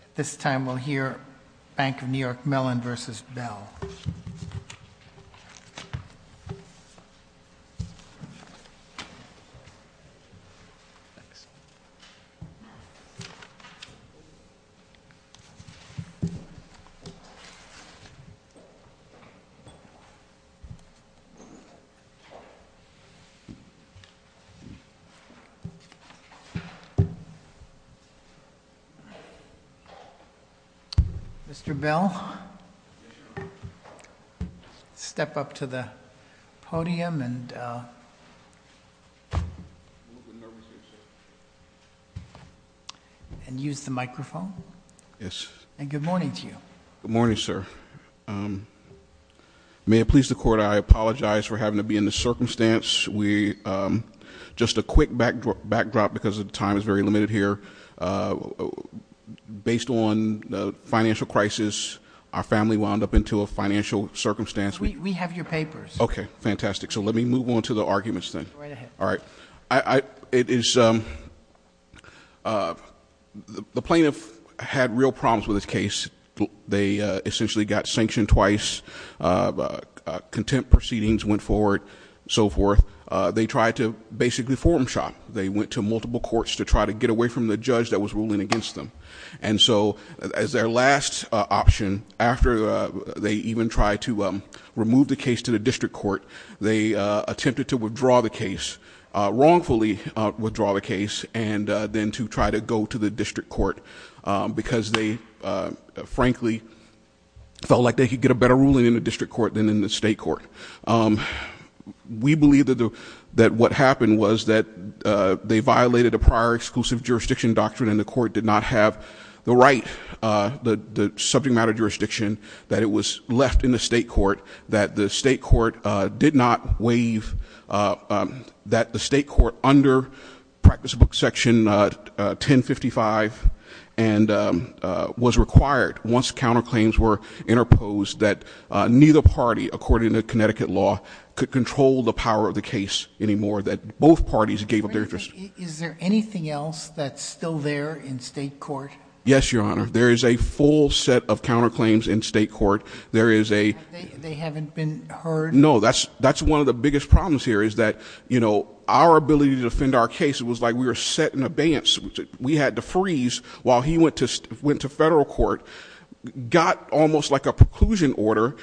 At this time, we'll hear Bank of New York Mellon v. Bell. Mr. Bell, step up to the podium and use the microphone. Yes. And good morning to you. Good morning, sir. May it please the court, I apologize for having to be in this circumstance. We, just a quick backdrop because the time is very limited here. Based on the financial crisis, our family wound up into a financial circumstance. We have your papers. Okay, fantastic. So let me move on to the arguments then. Right ahead. All right. It is, the plaintiff had real problems with this case. They essentially got sanctioned twice, contempt proceedings went forward, so forth. They tried to basically form shop. They went to multiple courts to try to get away from the judge that was ruling against them. And so, as their last option, after they even tried to remove the case to the district court, they attempted to withdraw the case, wrongfully withdraw the case, and then to try to go to the district court, because they, frankly, felt like they could get a better ruling in the district court than in the state court. We believe that what happened was that they violated a prior exclusive jurisdiction doctrine and the court did not have the right, the subject matter jurisdiction, that it was left in the state court. That the state court did not waive, that the state court under practice book section 1055 was required once counterclaims were interposed, that neither party, according to Connecticut law, could control the power of the case anymore. That both parties gave up their interest. Is there anything else that's still there in state court? Yes, your honor. There is a full set of counterclaims in state court. There is a- They haven't been heard? No, that's one of the biggest problems here, is that our ability to defend our case, it was like we were set in abeyance. We had to freeze while he went to federal court. Got almost like a preclusion order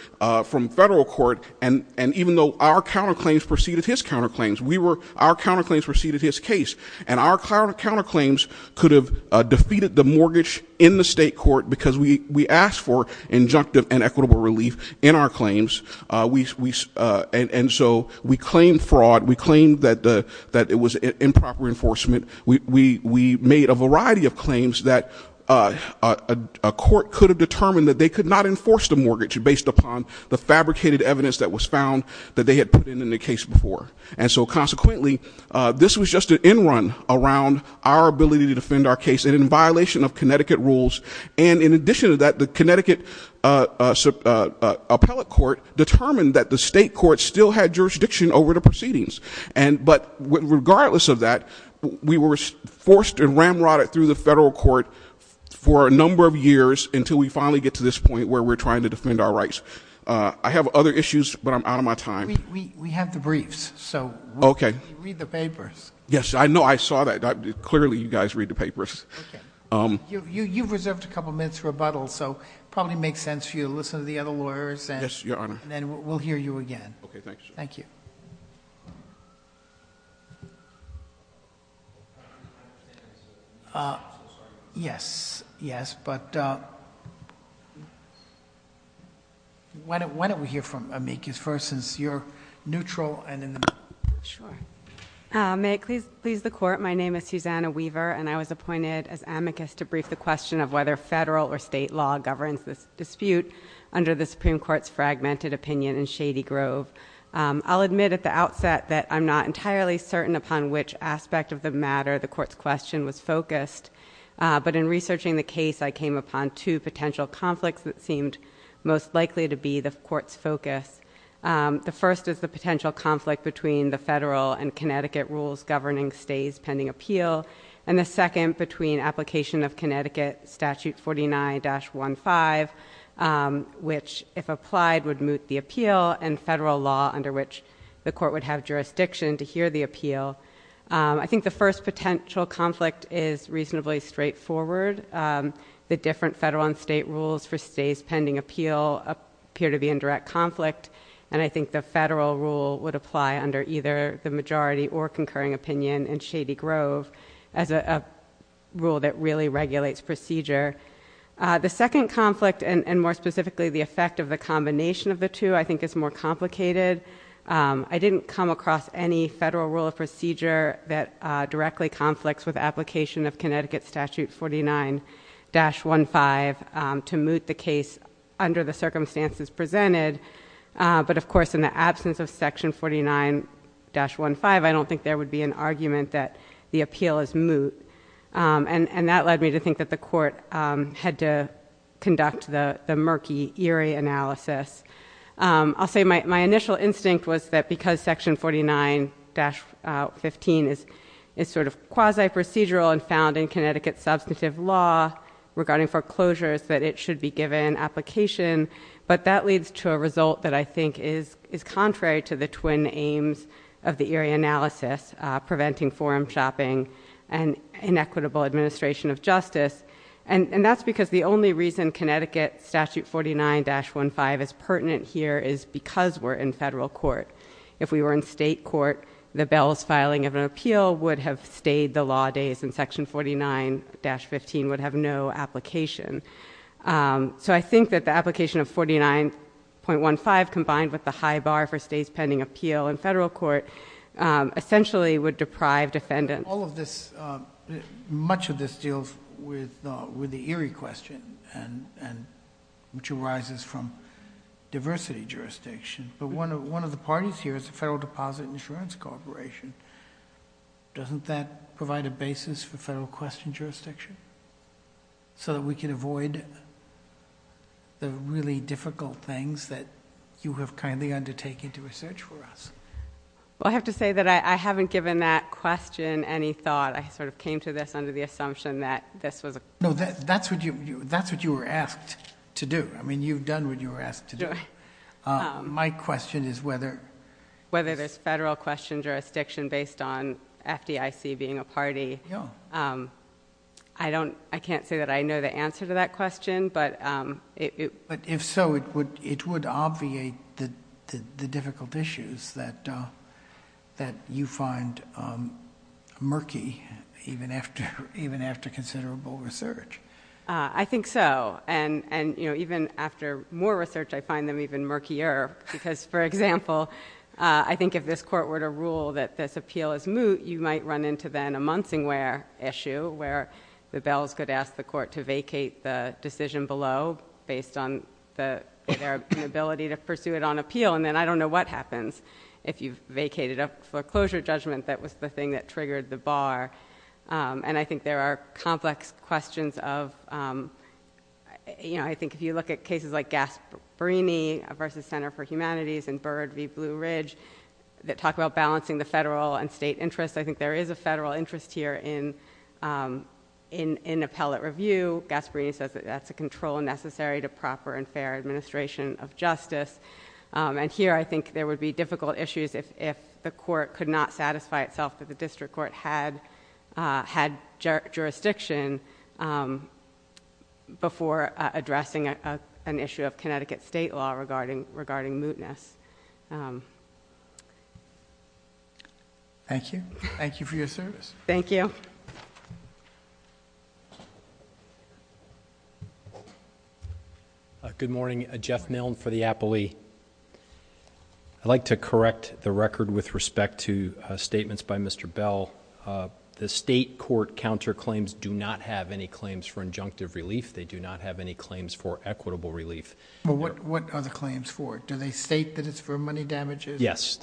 from federal court, and even though our counterclaims preceded his counterclaims, we were, our counterclaims preceded his case, and our counterclaims could have defeated the mortgage in the state court because we asked for injunctive and equitable relief in our claims. And so we claimed fraud, we claimed that it was improper enforcement. We made a variety of claims that a court could have determined that they could not enforce the mortgage based upon the fabricated evidence that was found that they had put in the case before. And so consequently, this was just an end run around our ability to defend our case and in violation of Connecticut rules. And in addition to that, the Connecticut appellate court determined that the state court still had jurisdiction over the proceedings. And but regardless of that, we were forced and ramrodded through the federal court for a number of years until we finally get to this point where we're trying to defend our rights. I have other issues, but I'm out of my time. We have the briefs, so read the papers. Yes, I know, I saw that. Clearly you guys read the papers. Okay. You've reserved a couple minutes for rebuttal, so it probably makes sense for you to listen to the other lawyers. Yes, your honor. And then we'll hear you again. Okay, thanks. Thank you. Yes, yes, but Why don't we hear from amicus first since you're neutral and in the middle. Sure. May it please the court, my name is Susanna Weaver and I was appointed as amicus to brief the question of whether federal or state law governs this dispute under the Supreme Court's fragmented opinion in Shady Grove. I'll admit at the outset that I'm not entirely certain upon which aspect of the matter the court's question was focused. But in researching the case, I came upon two potential conflicts that seemed most likely to be the court's focus. The first is the potential conflict between the federal and Connecticut rules governing stays pending appeal. And the second between application of Connecticut Statute 49-15 which, if applied, would moot the appeal and federal law under which the court would have jurisdiction to hear the appeal. I think the first potential conflict is reasonably straightforward. The different federal and state rules for stays pending appeal appear to be in direct conflict. And I think the federal rule would apply under either the majority or concurring opinion in Shady Grove as a rule that really regulates procedure. The second conflict, and more specifically the effect of the combination of the two, I think is more complicated. I didn't come across any federal rule of procedure that directly conflicts with application of Connecticut Statute 49-15 to moot the case under the circumstances presented. But of course, in the absence of section 49-15, I don't think there would be an argument that the appeal is moot. And that led me to think that the court had to conduct the murky, eerie analysis. I'll say my initial instinct was that because section 49-15 is sort of quasi-procedural and found in Connecticut substantive law regarding foreclosures, that it should be given application. But that leads to a result that I think is contrary to the twin aims of the eerie analysis, preventing forum shopping and inequitable administration of justice. And that's because the only reason Connecticut Statute 49-15 is pertinent here is because we're in federal court. If we were in state court, the bells filing of an appeal would have stayed the law days and section 49-15 would have no application. So I think that the application of 49.15 combined with the high bar for state's pending appeal in federal court essentially would deprive defendants. All of this, much of this deals with the eerie question, which arises from diversity jurisdiction. But one of the parties here is the Federal Deposit Insurance Corporation. Doesn't that provide a basis for federal question jurisdiction? So that we can avoid the really difficult things that you have kindly undertaken to research for us. Well, I have to say that I haven't given that question any thought. I sort of came to this under the assumption that this was a- No, that's what you were asked to do. I mean, you've done what you were asked to do. My question is whether- Whether there's federal question jurisdiction based on FDIC being a party. Yeah. I can't say that I know the answer to that question, but it- I can't say that you find murky even after considerable research. I think so, and even after more research, I find them even murkier. Because, for example, I think if this court were to rule that this appeal is moot, you might run into then a Munsingware issue where the bells could ask the court to vacate the decision below based on their inability to pursue it on appeal. And then I don't know what happens if you've vacated a foreclosure judgment that was the thing that triggered the bar. And I think there are complex questions of- I think if you look at cases like Gasparini versus Center for Humanities and Byrd v. Blue Ridge that talk about balancing the federal and state interests. I think there is a federal interest here in appellate review. Gasparini says that that's a control necessary to proper and fair administration of justice. And here, I think there would be difficult issues if the court could not satisfy itself that the district court had jurisdiction before addressing an issue of Connecticut state law regarding mootness. Thank you. Thank you for your service. Thank you. Good morning. Jeff Milne for the Appellee. I'd like to correct the record with respect to statements by Mr. Bell. The state court counterclaims do not have any claims for injunctive relief. They do not have any claims for equitable relief. What are the claims for? Do they state that it's for money damages only? Yes.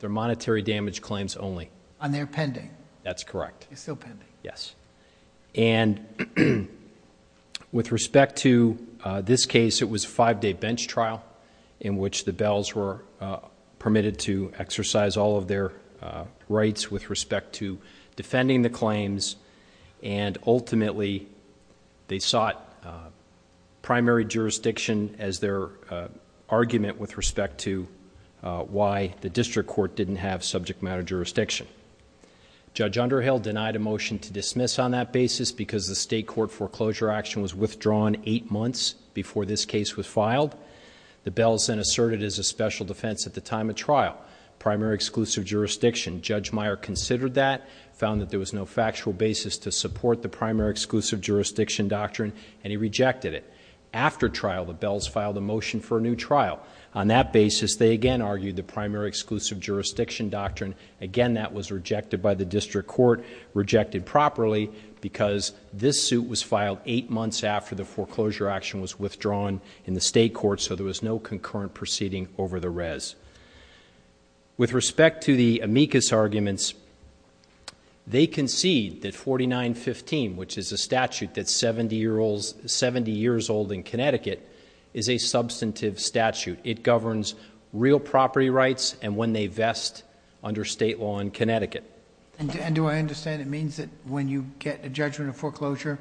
They're monetary damage claims only. And they're pending? That's correct. They're still pending? Yes. And with respect to this case, it was a five-day bench trial in which the Bells were permitted to exercise all of their rights with respect to defending the claims. And ultimately, they sought primary jurisdiction as their argument with respect to why the district court didn't have subject matter jurisdiction. Judge Underhill denied a motion to dismiss on that basis because the state court foreclosure action was withdrawn eight months before this case was filed. The Bells then asserted it as a special defense at the time of trial, primary exclusive jurisdiction. Judge Meyer considered that, found that there was no factual basis to support the primary exclusive jurisdiction doctrine, and he rejected it. After trial, the Bells filed a motion for a new trial. On that basis, they again argued the primary exclusive jurisdiction doctrine. Again, that was rejected by the district court, rejected properly because this suit was filed eight months after the foreclosure action was withdrawn in the state court, so there was no concurrent proceeding over the res. With respect to the amicus arguments, they concede that 4915, which is a statute that's 70 years old in Connecticut, is a substantive statute. It governs real property rights and when they vest under state law in Connecticut. And do I understand it means that when you get a judgment of foreclosure,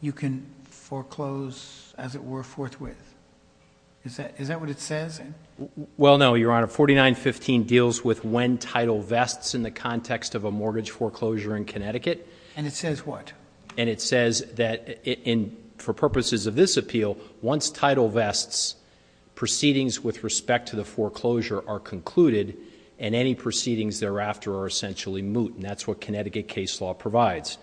you can foreclose as it were forthwith? Is that what it says? Well, no, Your Honor. 4915 deals with when title vests in the context of a mortgage foreclosure in Connecticut. And it says what? And it says that for purposes of this appeal, once title vests, proceedings with respect to the foreclosure are concluded and any proceedings thereafter are essentially moot. And that's what Connecticut case law provides.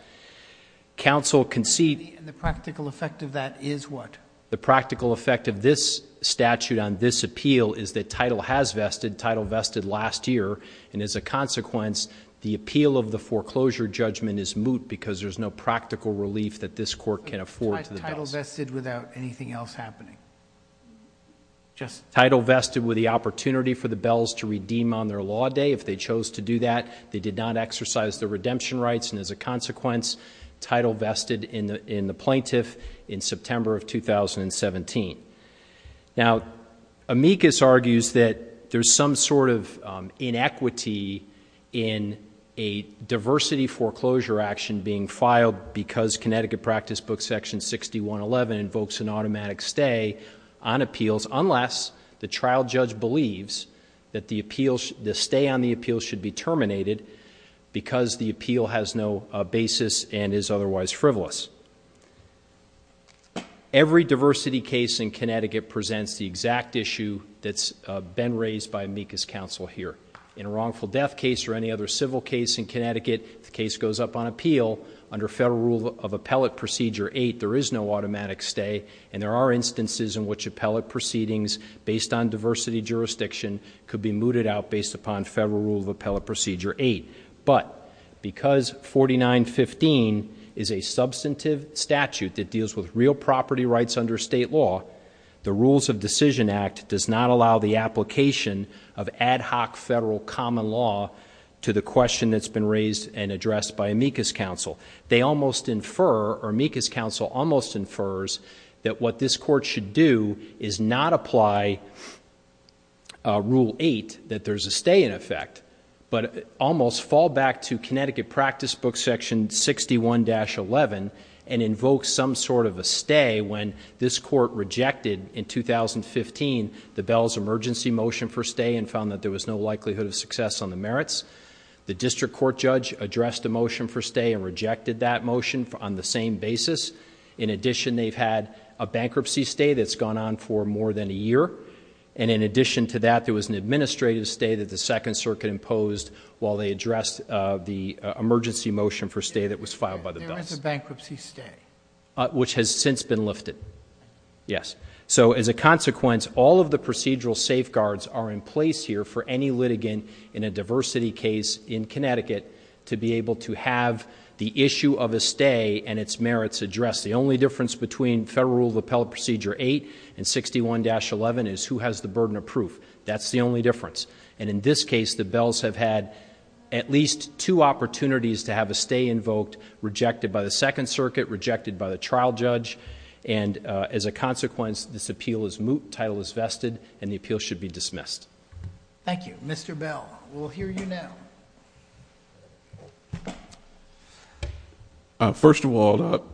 Counsel concede... And the practical effect of that is what? The practical effect of this statute on this appeal is that title has vested, title vested last year, and as a consequence, the appeal of the foreclosure judgment is moot because there's no practical relief that this court can afford to the bells. Title vested without anything else happening? Title vested with the opportunity for the bells to redeem on their law day. If they chose to do that, they did not exercise their redemption rights and as a consequence, title vested in the plaintiff in September of 2017. Now Amicus argues that there's some sort of inequity in a diversity foreclosure action being filed because Connecticut practice book section 6111 invokes an automatic stay on appeals unless the trial judge believes that the stay on the appeal should be terminated because the appeal has no basis and is otherwise frivolous. Every diversity case in Connecticut presents the exact issue that's been raised by Amicus counsel here. In a wrongful death case or any other civil case in Connecticut, the case goes up on appeal under federal rule of appellate procedure 8, there is no automatic stay and there are instances in which appellate proceedings based on diversity jurisdiction could be mooted out based upon federal rule of appellate procedure 8. But because 4915 is a substantive statute that deals with real property rights under state law, the rules of decision act does not allow the application of ad hoc federal common law to the question that's been raised and addressed by Amicus counsel. They almost infer or Amicus counsel almost infers that what this court should do is not apply rule 8, that there's a stay in effect, but almost fall back to Connecticut practice book section 61-11 and invoke some sort of a stay when this court rejected in 2015 the Bell's emergency motion for stay and found that there was no likelihood of success on the merits. The district court judge addressed the motion for stay and rejected that motion on the same basis. In addition, they've had a bankruptcy stay that's gone on for more than a year. And in addition to that, there was an administrative stay that the second circuit imposed while they addressed the emergency motion for stay that was filed by the Bells. There was a bankruptcy stay. Which has since been lifted. Yes. So as a consequence, all of the procedural safeguards are in place here for any litigant in a diversity case in Connecticut to be able to have the issue of a stay and its merits addressed. The only difference between federal rule of appellate procedure 8 and 61-11 is who has the burden of proof. That's the only difference. And in this case, the Bells have had at least two opportunities to have a stay invoked, rejected by the second circuit, rejected by the trial judge. And as a consequence, this appeal is moot, title is vested, and the appeal should be dismissed. Thank you. Mr. Bell, we'll hear you now. First of all,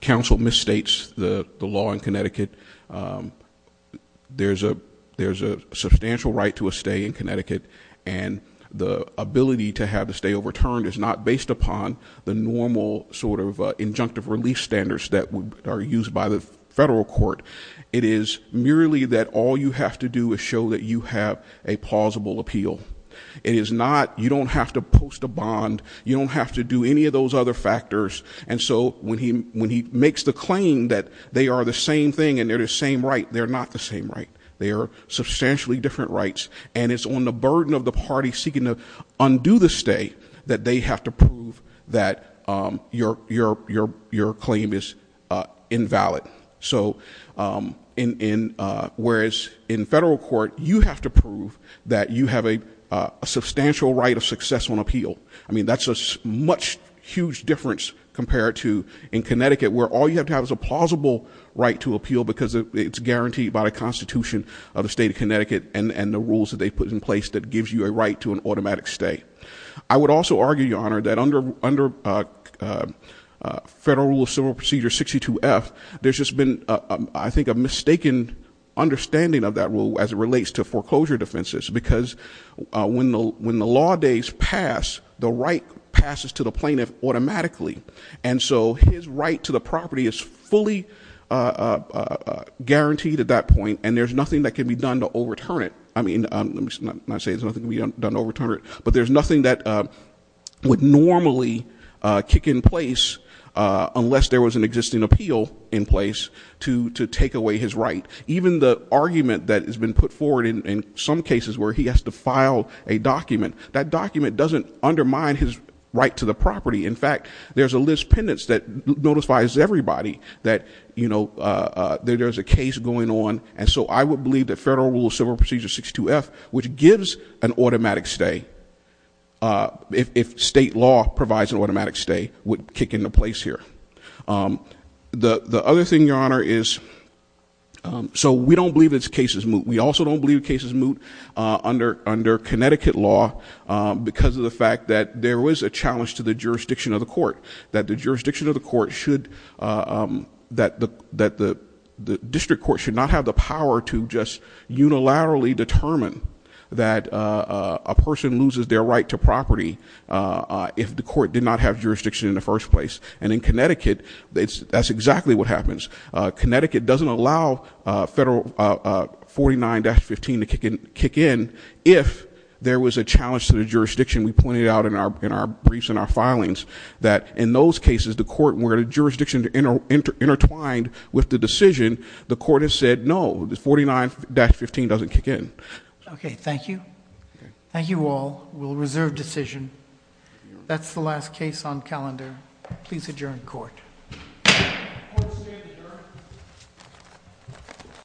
counsel misstates the law in Connecticut. There's a substantial right to a stay in Connecticut. And the ability to have the stay overturned is not based upon the normal sort of injunctive relief standards that are used by the federal court. It is merely that all you have to do is show that you have a plausible appeal. It is not, you don't have to post a bond. You don't have to do any of those other factors. And so when he makes the claim that they are the same thing and they're the same right, they're not the same right. They are substantially different rights. And it's on the burden of the party seeking to undo the stay that they have to prove that your claim is invalid. So whereas in federal court, you have to prove that you have a substantial right of success on appeal. I mean, that's a much huge difference compared to in Connecticut where all you have to have is a plausible right to appeal because it's guaranteed by the constitution of the state of Connecticut and the rules that they put in place that gives you a right to an automatic stay. I would also argue, your honor, that under federal rule of civil procedure 62F, there's just been, I think, a mistaken understanding of that rule as it relates to foreclosure defenses. Because when the law days pass, the right passes to the plaintiff automatically. And so his right to the property is fully guaranteed at that point, and there's nothing that can be done to overturn it. I mean, let me not say there's nothing to be done to overturn it, but there's nothing that would normally kick in place unless there was an existing appeal in place to take away his right. Even the argument that has been put forward in some cases where he has to file a document, that document doesn't undermine his right to the property. In fact, there's a list pendants that notifies everybody that there's a case going on. And so I would believe that federal rule of civil procedure 62F, which gives an automatic stay, if state law provides an automatic stay, would kick into place here. The other thing, your honor, is, so we don't believe this case is moot. We also don't believe the case is moot under Connecticut law because of the fact that there was a challenge to the jurisdiction of the court. That the jurisdiction of the court should, that the district court should not have the power to just unilaterally determine that a person loses their right to property if the court did not have jurisdiction in the first place. And in Connecticut, that's exactly what happens. Connecticut doesn't allow federal 49-15 to kick in if there was a challenge to the jurisdiction. We pointed out in our briefs and our filings that in those cases, the court where the jurisdiction intertwined with the decision, the court has said no, 49-15 doesn't kick in. Okay, thank you. Thank you all. We'll reserve decision. That's the last case on calendar. Please adjourn court.